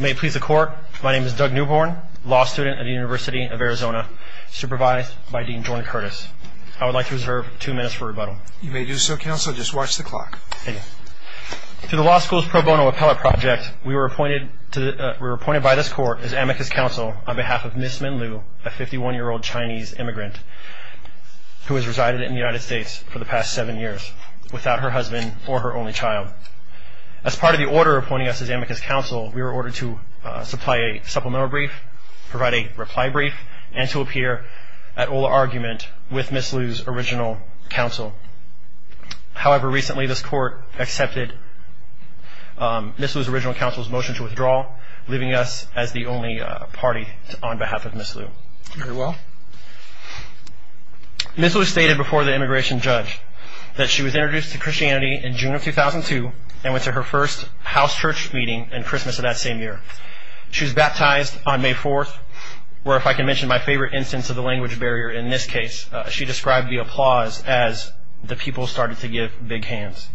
May it please the court, my name is Doug Newborn, law student at the University of Arizona, supervised by Dean Jordan Curtis. I would like to reserve two minutes for rebuttal. You may do so, counsel. Just watch the clock. Thank you. Through the law school's pro bono appellate project, we were appointed by this court as amicus counsel on behalf of Ms. Min Liu, a 51-year-old Chinese immigrant who has resided in the United States for the past seven years without her husband or her only child. As part of the order appointing us as amicus counsel, we were ordered to supply a supplemental brief, provide a reply brief, and to appear at oral argument with Ms. Liu's original counsel. However, recently this court accepted Ms. Liu's original counsel's motion to withdraw, leaving us as the only party on behalf of Ms. Liu. Very well. Ms. Liu stated before the immigration judge that she was introduced to Christianity in June of 2002 and went to her first house church meeting and Christmas of that same year. She was baptized on May 4th, where if I can mention my favorite instance of the language barrier in this case, she described the applause as the people started to give big hands.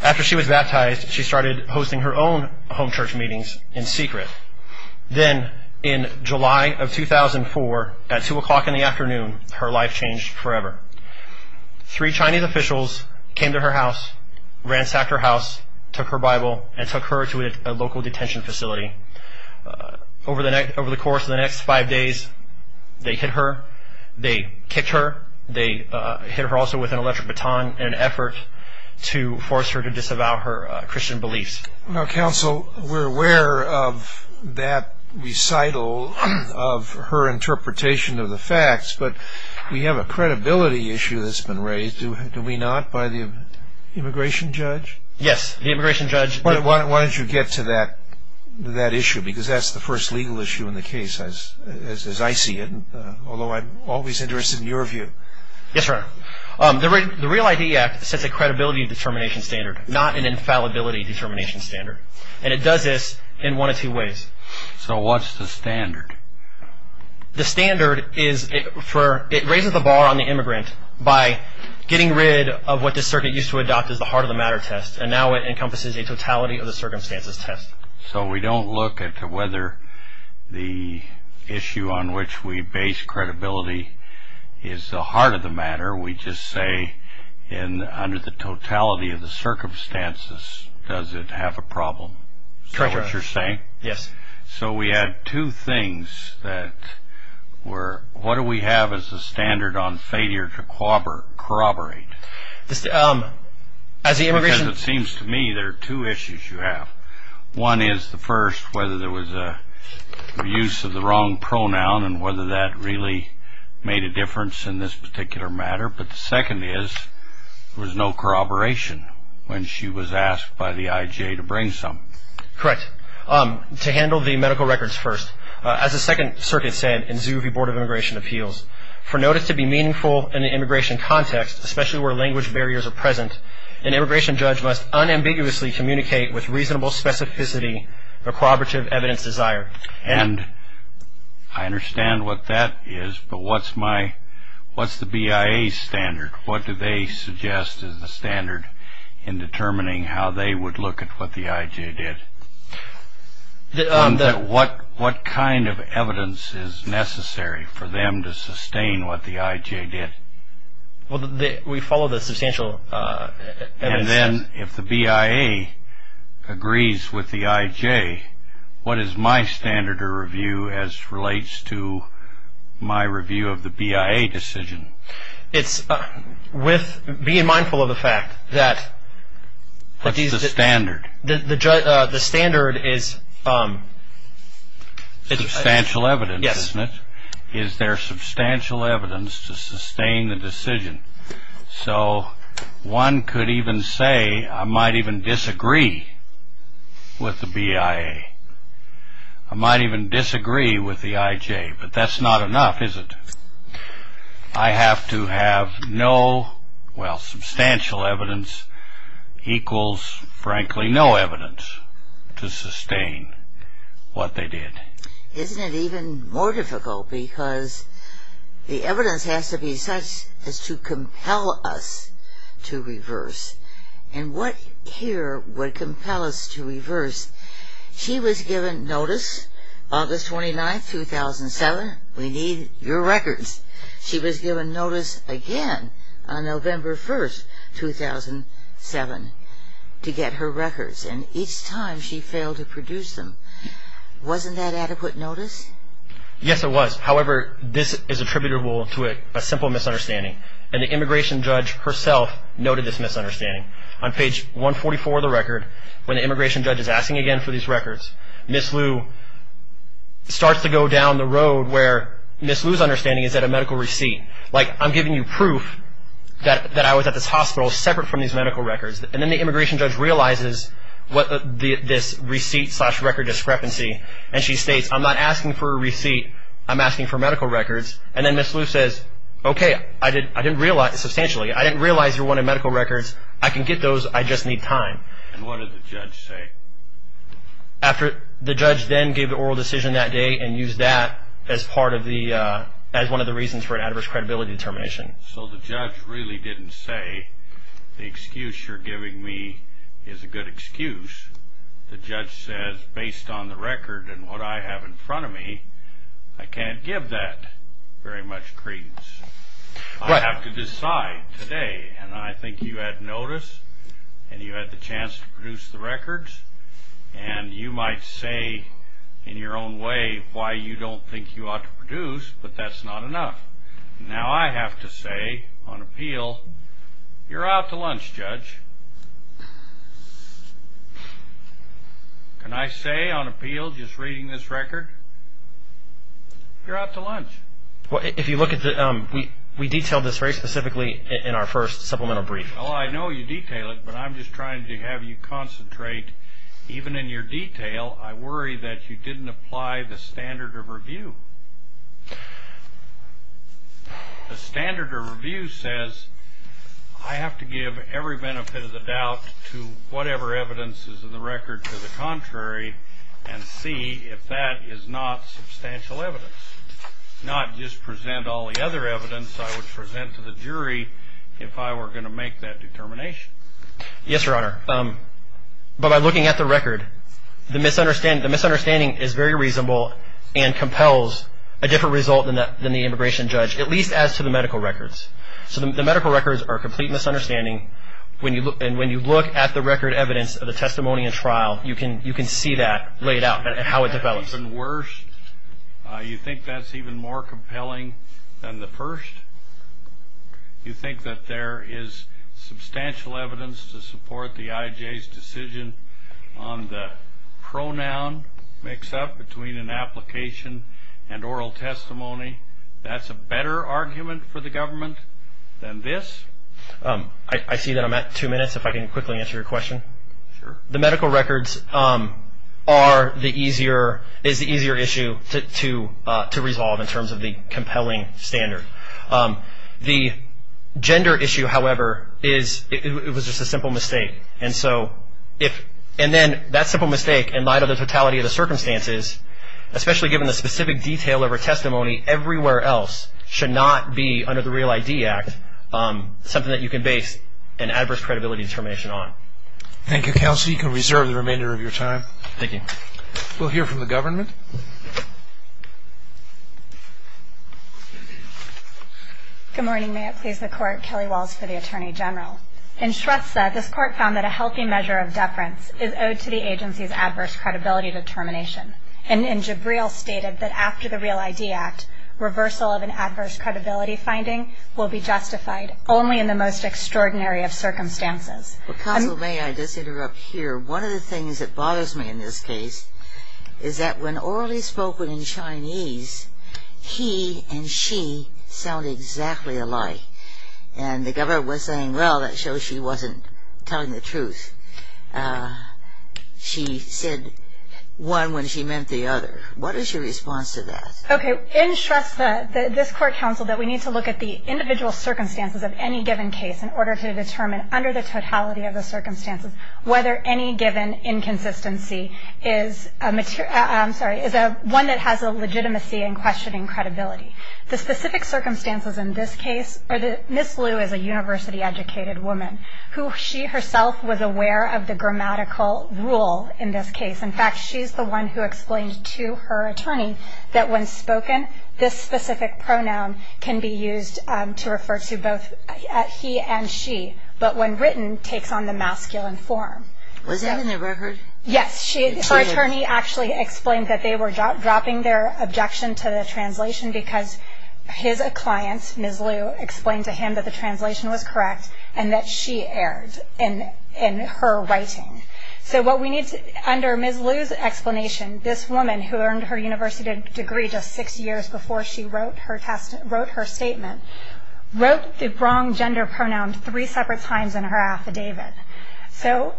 After she was baptized, she started hosting her own home church meetings in secret. Then in July of 2004, at 2 o'clock in the afternoon, her life changed forever. Three Chinese officials came to her house, ransacked her house, took her Bible, and took her to a local detention facility. Over the course of the next five days, they hit her, they kicked her, they hit her also with an electric baton in an effort to force her to disavow her Christian beliefs. Now, counsel, we're aware of that recital of her interpretation of the facts, but we have a credibility issue that's been raised. Do we not, by the immigration judge? Yes, the immigration judge. Why don't you get to that issue, because that's the first legal issue in the case, as I see it, although I'm always interested in your view. Yes, Your Honor. The REAL ID Act sets a credibility determination standard, not an infallibility determination standard, and it does this in one of two ways. So what's the standard? The standard is it raises the bar on the immigrant by getting rid of what the circuit used to adopt as the heart of the matter test, and now it encompasses a totality of the circumstances test. So we don't look at whether the issue on which we base credibility is the heart of the matter. We just say, under the totality of the circumstances, does it have a problem? Correct, Your Honor. Is that what you're saying? Yes. So we had two things that were, what do we have as the standard on failure to corroborate? As the immigration... One is the first, whether there was a use of the wrong pronoun and whether that really made a difference in this particular matter, but the second is there was no corroboration when she was asked by the IJ to bring some. Correct. To handle the medical records first, as the Second Circuit said in Zuvi Board of Immigration Appeals, for notice to be meaningful in the immigration context, especially where language barriers are present, an immigration judge must unambiguously communicate with reasonable specificity or corroborative evidence desire. And I understand what that is, but what's the BIA standard? What do they suggest is the standard in determining how they would look at what the IJ did? What kind of evidence is necessary for them to sustain what the IJ did? Well, we follow the substantial evidence. And then if the BIA agrees with the IJ, what is my standard of review as relates to my review of the BIA decision? It's with being mindful of the fact that... What's the standard? The standard is... Substantial evidence, isn't it? Yes. Is there substantial evidence to sustain the decision? So one could even say, I might even disagree with the BIA. I might even disagree with the IJ, but that's not enough, is it? I have to have no... well, substantial evidence equals, frankly, no evidence to sustain what they did. Isn't it even more difficult? Because the evidence has to be such as to compel us to reverse. And what here would compel us to reverse? She was given notice August 29, 2007. We need your records. She was given notice again on November 1, 2007 to get her records. And each time she failed to produce them. Wasn't that adequate notice? Yes, it was. However, this is attributable to a simple misunderstanding. And the immigration judge herself noted this misunderstanding. On page 144 of the record, when the immigration judge is asking again for these records, Ms. Liu starts to go down the road where Ms. Liu's understanding is that a medical receipt. Like, I'm giving you proof that I was at this hospital separate from these medical records. And then the immigration judge realizes this receipt slash record discrepancy. And she states, I'm not asking for a receipt. I'm asking for medical records. And then Ms. Liu says, okay, I didn't realize substantially. I didn't realize you wanted medical records. I can get those. I just need time. And what did the judge say? The judge then gave the oral decision that day and used that as one of the reasons for an adverse credibility determination. So the judge really didn't say the excuse you're giving me is a good excuse. The judge says, based on the record and what I have in front of me, I can't give that very much credence. I have to decide today. And I think you had notice and you had the chance to produce the records. And you might say in your own way why you don't think you ought to produce, but that's not enough. Now I have to say on appeal, you're out to lunch, judge. Can I say on appeal, just reading this record, you're out to lunch. Well, if you look at the ‑‑ we detail this very specifically in our first supplemental brief. Well, I know you detail it, but I'm just trying to have you concentrate. Even in your detail, I worry that you didn't apply the standard of review. The standard of review says I have to give every benefit of the doubt to whatever evidence is in the record to the contrary and see if that is not substantial evidence, not just present all the other evidence I would present to the jury if I were going to make that determination. Yes, Your Honor. But by looking at the record, the misunderstanding is very reasonable and compels a different result than the immigration judge, at least as to the medical records. So the medical records are a complete misunderstanding. And when you look at the record evidence of the testimony and trial, you can see that laid out and how it develops. Even worse, you think that's even more compelling than the first? You think that there is substantial evidence to support the IJ's decision on the pronoun mix-up between an application and oral testimony? That's a better argument for the government than this? I see that I'm at two minutes. If I can quickly answer your question. Sure. The medical records is the easier issue to resolve in terms of the compelling standard. The gender issue, however, is it was just a simple mistake. And then that simple mistake, in light of the totality of the circumstances, especially given the specific detail of her testimony everywhere else, should not be under the Real ID Act something that you can base an adverse credibility determination on. Thank you, Counsel. You can reserve the remainder of your time. Thank you. We'll hear from the government. Good morning. May it please the Court, Kelly Walls for the Attorney General. In Shrestha, this Court found that a healthy measure of deference is owed to the agency's adverse credibility determination. And in Jibril, stated that after the Real ID Act, reversal of an adverse credibility finding will be justified only in the most extraordinary of circumstances. Counsel, may I just interrupt here? One of the things that bothers me in this case is that when orally spoken in Chinese, he and she sound exactly alike. And the government was saying, well, that shows she wasn't telling the truth. She said one when she meant the other. What is your response to that? Okay. In Shrestha, this Court counseled that we need to look at the individual circumstances of any given case in order to determine under the totality of the circumstances whether any given inconsistency is a material I'm sorry, is one that has a legitimacy in questioning credibility. The specific circumstances in this case are that Ms. Liu is a university-educated woman, who she herself was aware of the grammatical rule in this case. In fact, she's the one who explained to her attorney that when spoken, this specific pronoun can be used to refer to both he and she, but when written, takes on the masculine form. Was that in the record? Yes. Her attorney actually explained that they were dropping their objection to the translation because his client, Ms. Liu, explained to him that the translation was correct and that she erred in her writing. So what we need to, under Ms. Liu's explanation, this woman who earned her university degree just six years before she wrote her statement, wrote the wrong gender pronoun three separate times in her affidavit. So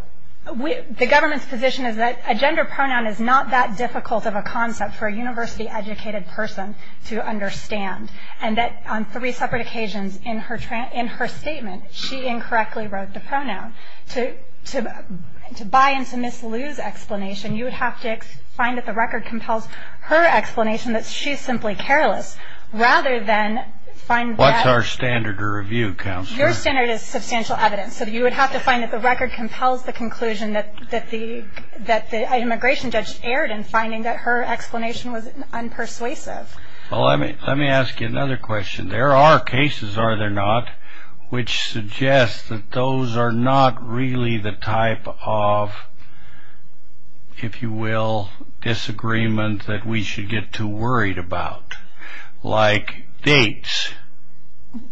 the government's position is that a gender pronoun is not that difficult of a concept for a university-educated person to understand, and that on three separate occasions in her statement, she incorrectly wrote the pronoun. To buy into Ms. Liu's explanation, you would have to find that the record compels her explanation that she's simply careless, rather than find that... What's our standard of review, Counselor? Your standard is substantial evidence, so you would have to find that the record compels the conclusion that the immigration judge erred in finding that her explanation was unpersuasive. Well, let me ask you another question. There are cases, are there not, which suggest that those are not really the type of, if you will, disagreement that we should get too worried about, like dates.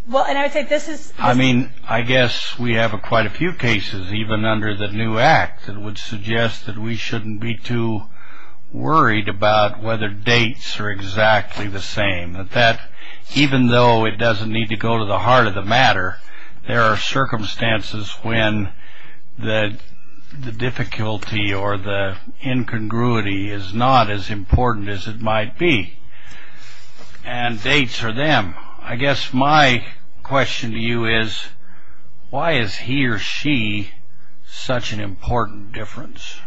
Well, and I would say this is... I mean, I guess we have quite a few cases, even under the new Act, that would suggest that we shouldn't be too worried about whether dates are exactly the same, that even though it doesn't need to go to the heart of the matter, there are circumstances when the difficulty or the incongruity is not as important as it might be, and dates are them. I guess my question to you is, why is he or she such an important difference?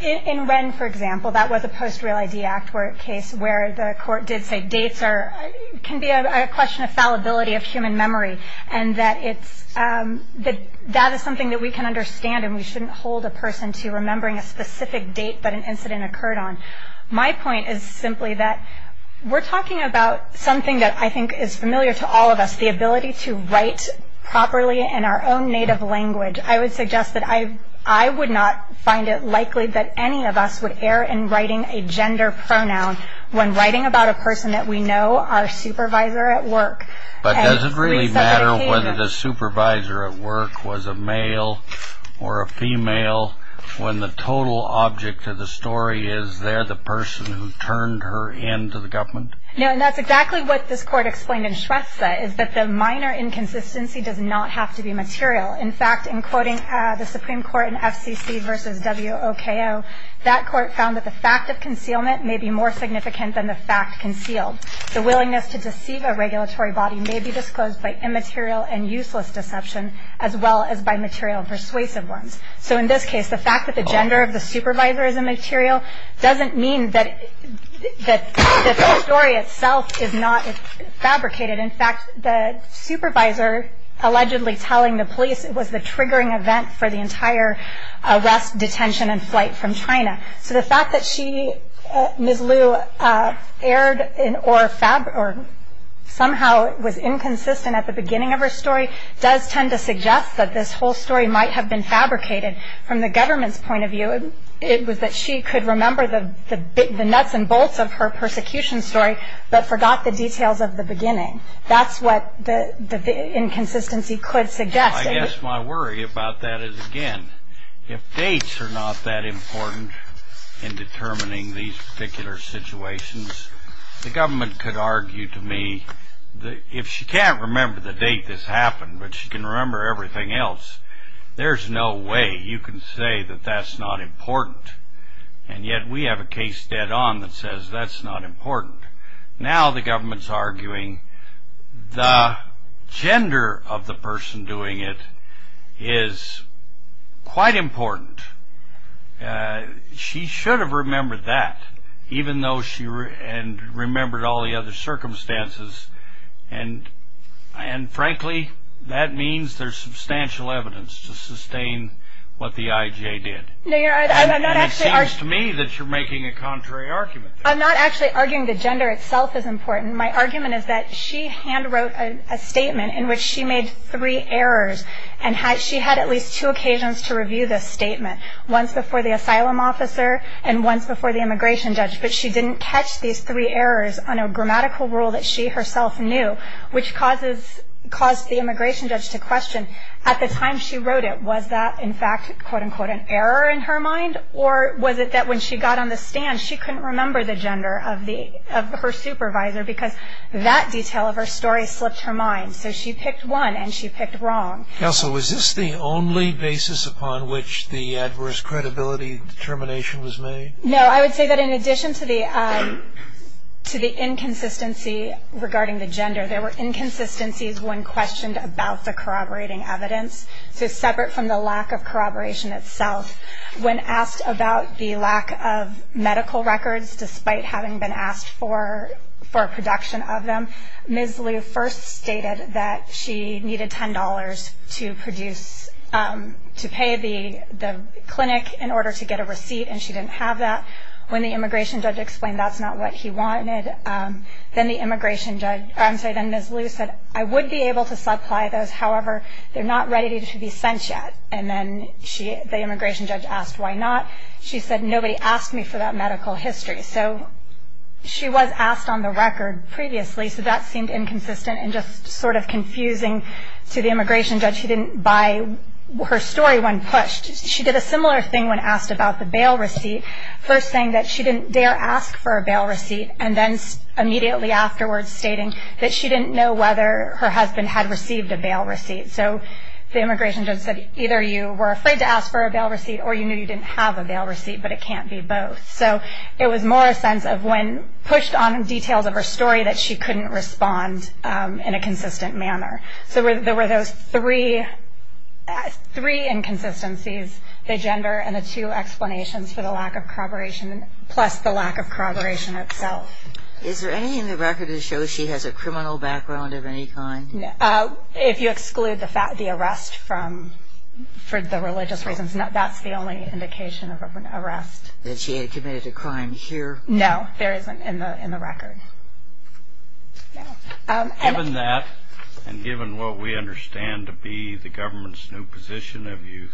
In Wren, for example, that was a post-Real ID Act case where the court did say dates can be a question of fallibility of human memory, and that is something that we can understand, and we shouldn't hold a person to remembering a specific date that an incident occurred on. My point is simply that we're talking about something that I think is familiar to all of us, the ability to write properly in our own native language. I would suggest that I would not find it likely that any of us would err in writing a gender pronoun when writing about a person that we know, our supervisor at work. But does it really matter whether the supervisor at work was a male or a female when the total object of the story is they're the person who turned her in to the government? No, and that's exactly what this court explained in Shrestha, is that the minor inconsistency does not have to be material. In fact, in quoting the Supreme Court in FCC v. W.O.K.O., that court found that the fact of concealment may be more significant than the fact concealed. The willingness to deceive a regulatory body may be disclosed by immaterial and useless deception, as well as by material persuasive ones. So in this case, the fact that the gender of the supervisor is immaterial doesn't mean that the story itself is not fabricated. In fact, the supervisor allegedly telling the police was the triggering event for the entire arrest, detention, and flight from China. So the fact that she, Ms. Liu, erred or somehow was inconsistent at the beginning of her story does tend to suggest that this whole story might have been fabricated. From the government's point of view, it was that she could remember the nuts and bolts of her persecution story, but forgot the details of the beginning. That's what the inconsistency could suggest. I guess my worry about that is, again, if dates are not that important in determining these particular situations, the government could argue to me that if she can't remember the date this happened, but she can remember everything else, there's no way you can say that that's not important. And yet we have a case dead on that says that's not important. Now the government's arguing the gender of the person doing it is quite important. She should have remembered that, even though she remembered all the other circumstances. And frankly, that means there's substantial evidence to sustain what the IJ did. It seems to me that you're making a contrary argument. I'm not actually arguing the gender itself is important. My argument is that she hand wrote a statement in which she made three errors and she had at least two occasions to review this statement, once before the asylum officer and once before the immigration judge. But she didn't catch these three errors on a grammatical rule that she herself knew, which caused the immigration judge to question, at the time she wrote it, was that in fact, quote unquote, an error in her mind? Or was it that when she got on the stand, she couldn't remember the gender of her supervisor because that detail of her story slipped her mind. So she picked one and she picked wrong. Counsel, was this the only basis upon which the adverse credibility determination was made? No, I would say that in addition to the inconsistency regarding the gender, there were inconsistencies when questioned about the corroborating evidence, so separate from the lack of corroboration itself. When asked about the lack of medical records, despite having been asked for a production of them, Ms. Liu first stated that she needed $10 to pay the clinic in order to get a receipt, and she didn't have that. When the immigration judge explained that's not what he wanted, then Ms. Liu said, I would be able to supply those, however, they're not ready to be sent yet. And then the immigration judge asked why not. She said, nobody asked me for that medical history. So she was asked on the record previously, so that seemed inconsistent and just sort of confusing to the immigration judge. She didn't buy her story when pushed. She did a similar thing when asked about the bail receipt, first saying that she didn't dare ask for a bail receipt, and then immediately afterwards stating that she didn't know whether her husband had received a bail receipt. So the immigration judge said, either you were afraid to ask for a bail receipt or you knew you didn't have a bail receipt, but it can't be both. So it was more a sense of when pushed on details of her story that she couldn't respond in a consistent manner. So there were those three inconsistencies, the gender and the two explanations for the lack of corroboration, plus the lack of corroboration itself. Is there anything in the record that shows she has a criminal background of any kind? If you exclude the arrest for the religious reasons, that's the only indication of an arrest. Has she committed a crime here? No, there isn't in the record. Given that, and given what we understand to be the government's new position, have you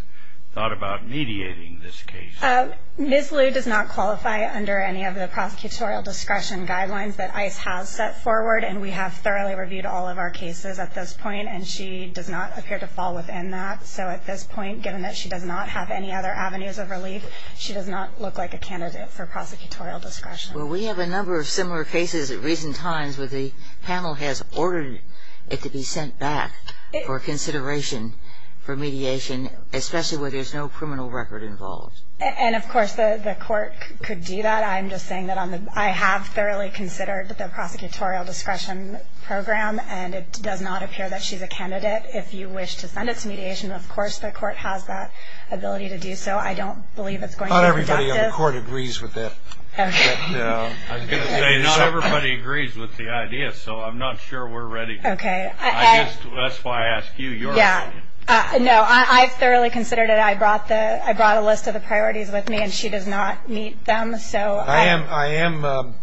thought about mediating this case? Ms. Liu does not qualify under any of the prosecutorial discretion guidelines that ICE has set forward, and we have thoroughly reviewed all of our cases at this point, and she does not appear to fall within that. So at this point, given that she does not have any other avenues of relief, she does not look like a candidate for prosecutorial discretion. Well, we have a number of similar cases at recent times where the panel has ordered it to be sent back for consideration for mediation, especially where there's no criminal record involved. And, of course, the court could do that. I'm just saying that I have thoroughly considered the prosecutorial discretion program, and it does not appear that she's a candidate. If you wish to send it to mediation, of course the court has that ability to do so. I don't believe it's going to be conductive. Not everybody in the court agrees with that. Okay. I was going to say, not everybody agrees with the idea, so I'm not sure we're ready. Okay. I guess that's why I asked you. Yeah. No, I thoroughly considered it. I brought a list of the priorities with me, and she does not meet them. I am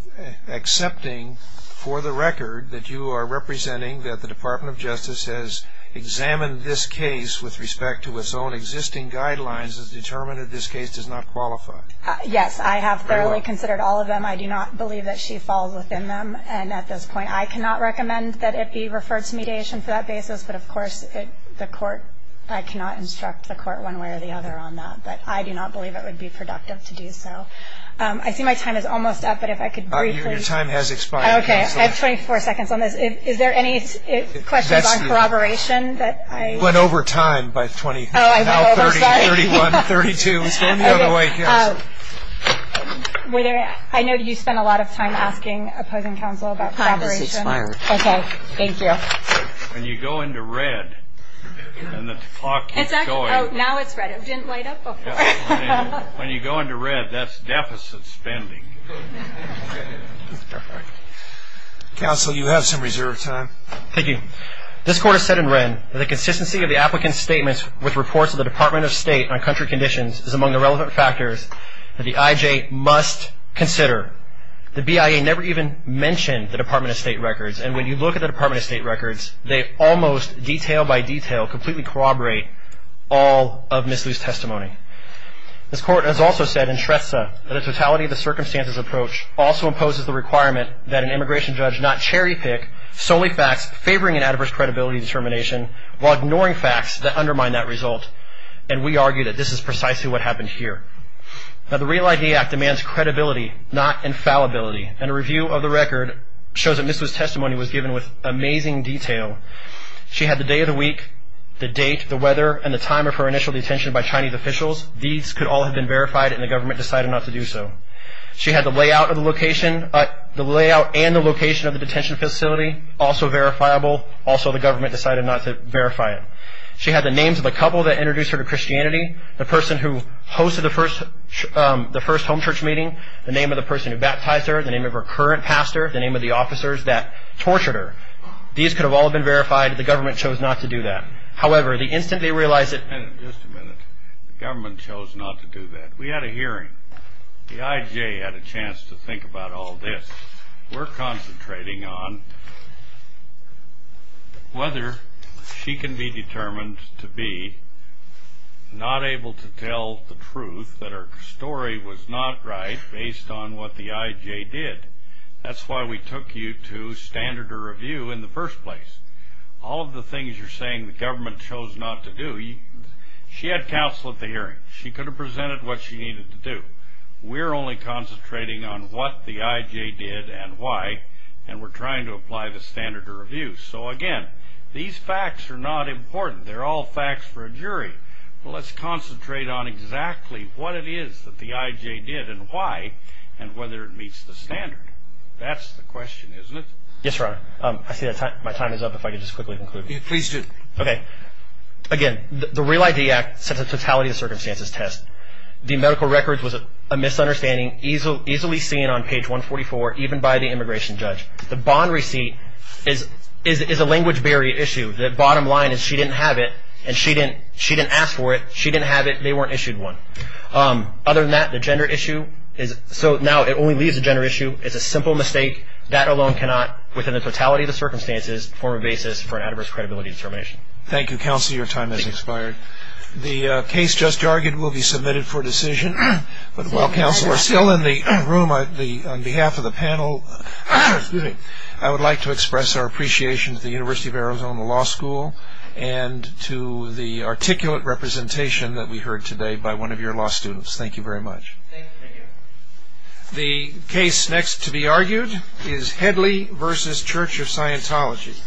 accepting for the record that you are representing that the Department of Justice has examined this case with respect to its own existing guidelines and has determined that this case does not qualify. Yes, I have thoroughly considered all of them. I do not believe that she falls within them. And at this point, I cannot recommend that it be referred to mediation for that basis. But, of course, the court, I cannot instruct the court one way or the other on that. But I do not believe it would be productive to do so. I see my time is almost up, but if I could briefly. Your time has expired. Okay. I have 24 seconds on this. Is there any questions on corroboration that I... You went over time by 20. Oh, I went over. Sorry. Now 31, 32. Let's go the other way. I know you spent a lot of time asking opposing counsel about corroboration. Your time has expired. Okay. Thank you. And you go into red, and the clock keeps going. Oh, now it's red. It didn't light up before. When you go into red, that's deficit spending. Counsel, you have some reserve time. Thank you. This court has said and read that the consistency of the applicant's statements with reports of the Department of State on country conditions is among the relevant factors that the IJ must consider. The BIA never even mentioned the Department of State records. And when you look at the Department of State records, they almost detail by detail completely corroborate all of Mislieu's testimony. This court has also said in Shrestha that a totality of the circumstances approach also imposes the requirement that an immigration judge not cherry pick solely facts favoring an adverse credibility determination while ignoring facts that undermine that result. And we argue that this is precisely what happened here. Now the REAL ID Act demands credibility, not infallibility. And a review of the record shows that Mislieu's testimony was given with amazing detail. She had the day of the week, the date, the weather, and the time of her initial detention by Chinese officials. These could all have been verified, and the government decided not to do so. She had the layout and the location of the detention facility also verifiable. Also, the government decided not to verify it. She had the names of the couple that introduced her to Christianity, the person who hosted the first home church meeting, the name of the person who baptized her, the name of her current pastor, the name of the officers that tortured her. These could have all been verified. The government chose not to do that. However, the instant they realized that... Just a minute. The government chose not to do that. We had a hearing. The IJ had a chance to think about all this. We're concentrating on whether she can be determined to be not able to tell the truth that her story was not right based on what the IJ did. That's why we took you to standard of review in the first place. All of the things you're saying the government chose not to do, she had counsel at the hearing. She could have presented what she needed to do. We're only concentrating on what the IJ did and why, and we're trying to apply the standard of review. So, again, these facts are not important. They're all facts for a jury. Well, let's concentrate on exactly what it is that the IJ did and why and whether it meets the standard. That's the question, isn't it? Yes, Your Honor. I see my time is up. If I could just quickly conclude. Please do. Okay. Again, the Real ID Act sets a totality of circumstances test. The medical records was a misunderstanding easily seen on page 144, even by the immigration judge. The bond receipt is a language barrier issue. The bottom line is she didn't have it and she didn't ask for it. She didn't have it. They weren't issued one. Other than that, the gender issue, so now it only leaves the gender issue. It's a simple mistake. That alone cannot, within the totality of the circumstances, form a basis for an adverse credibility determination. Thank you, counsel. Your time has expired. The case just argued will be submitted for decision. But while counsel are still in the room, on behalf of the panel, I would like to express our appreciation to the University of Arizona Law School and to the articulate representation that we heard today by one of your law students. Thank you very much. Thank you. The case next to be argued is Headley v. Church of Scientology.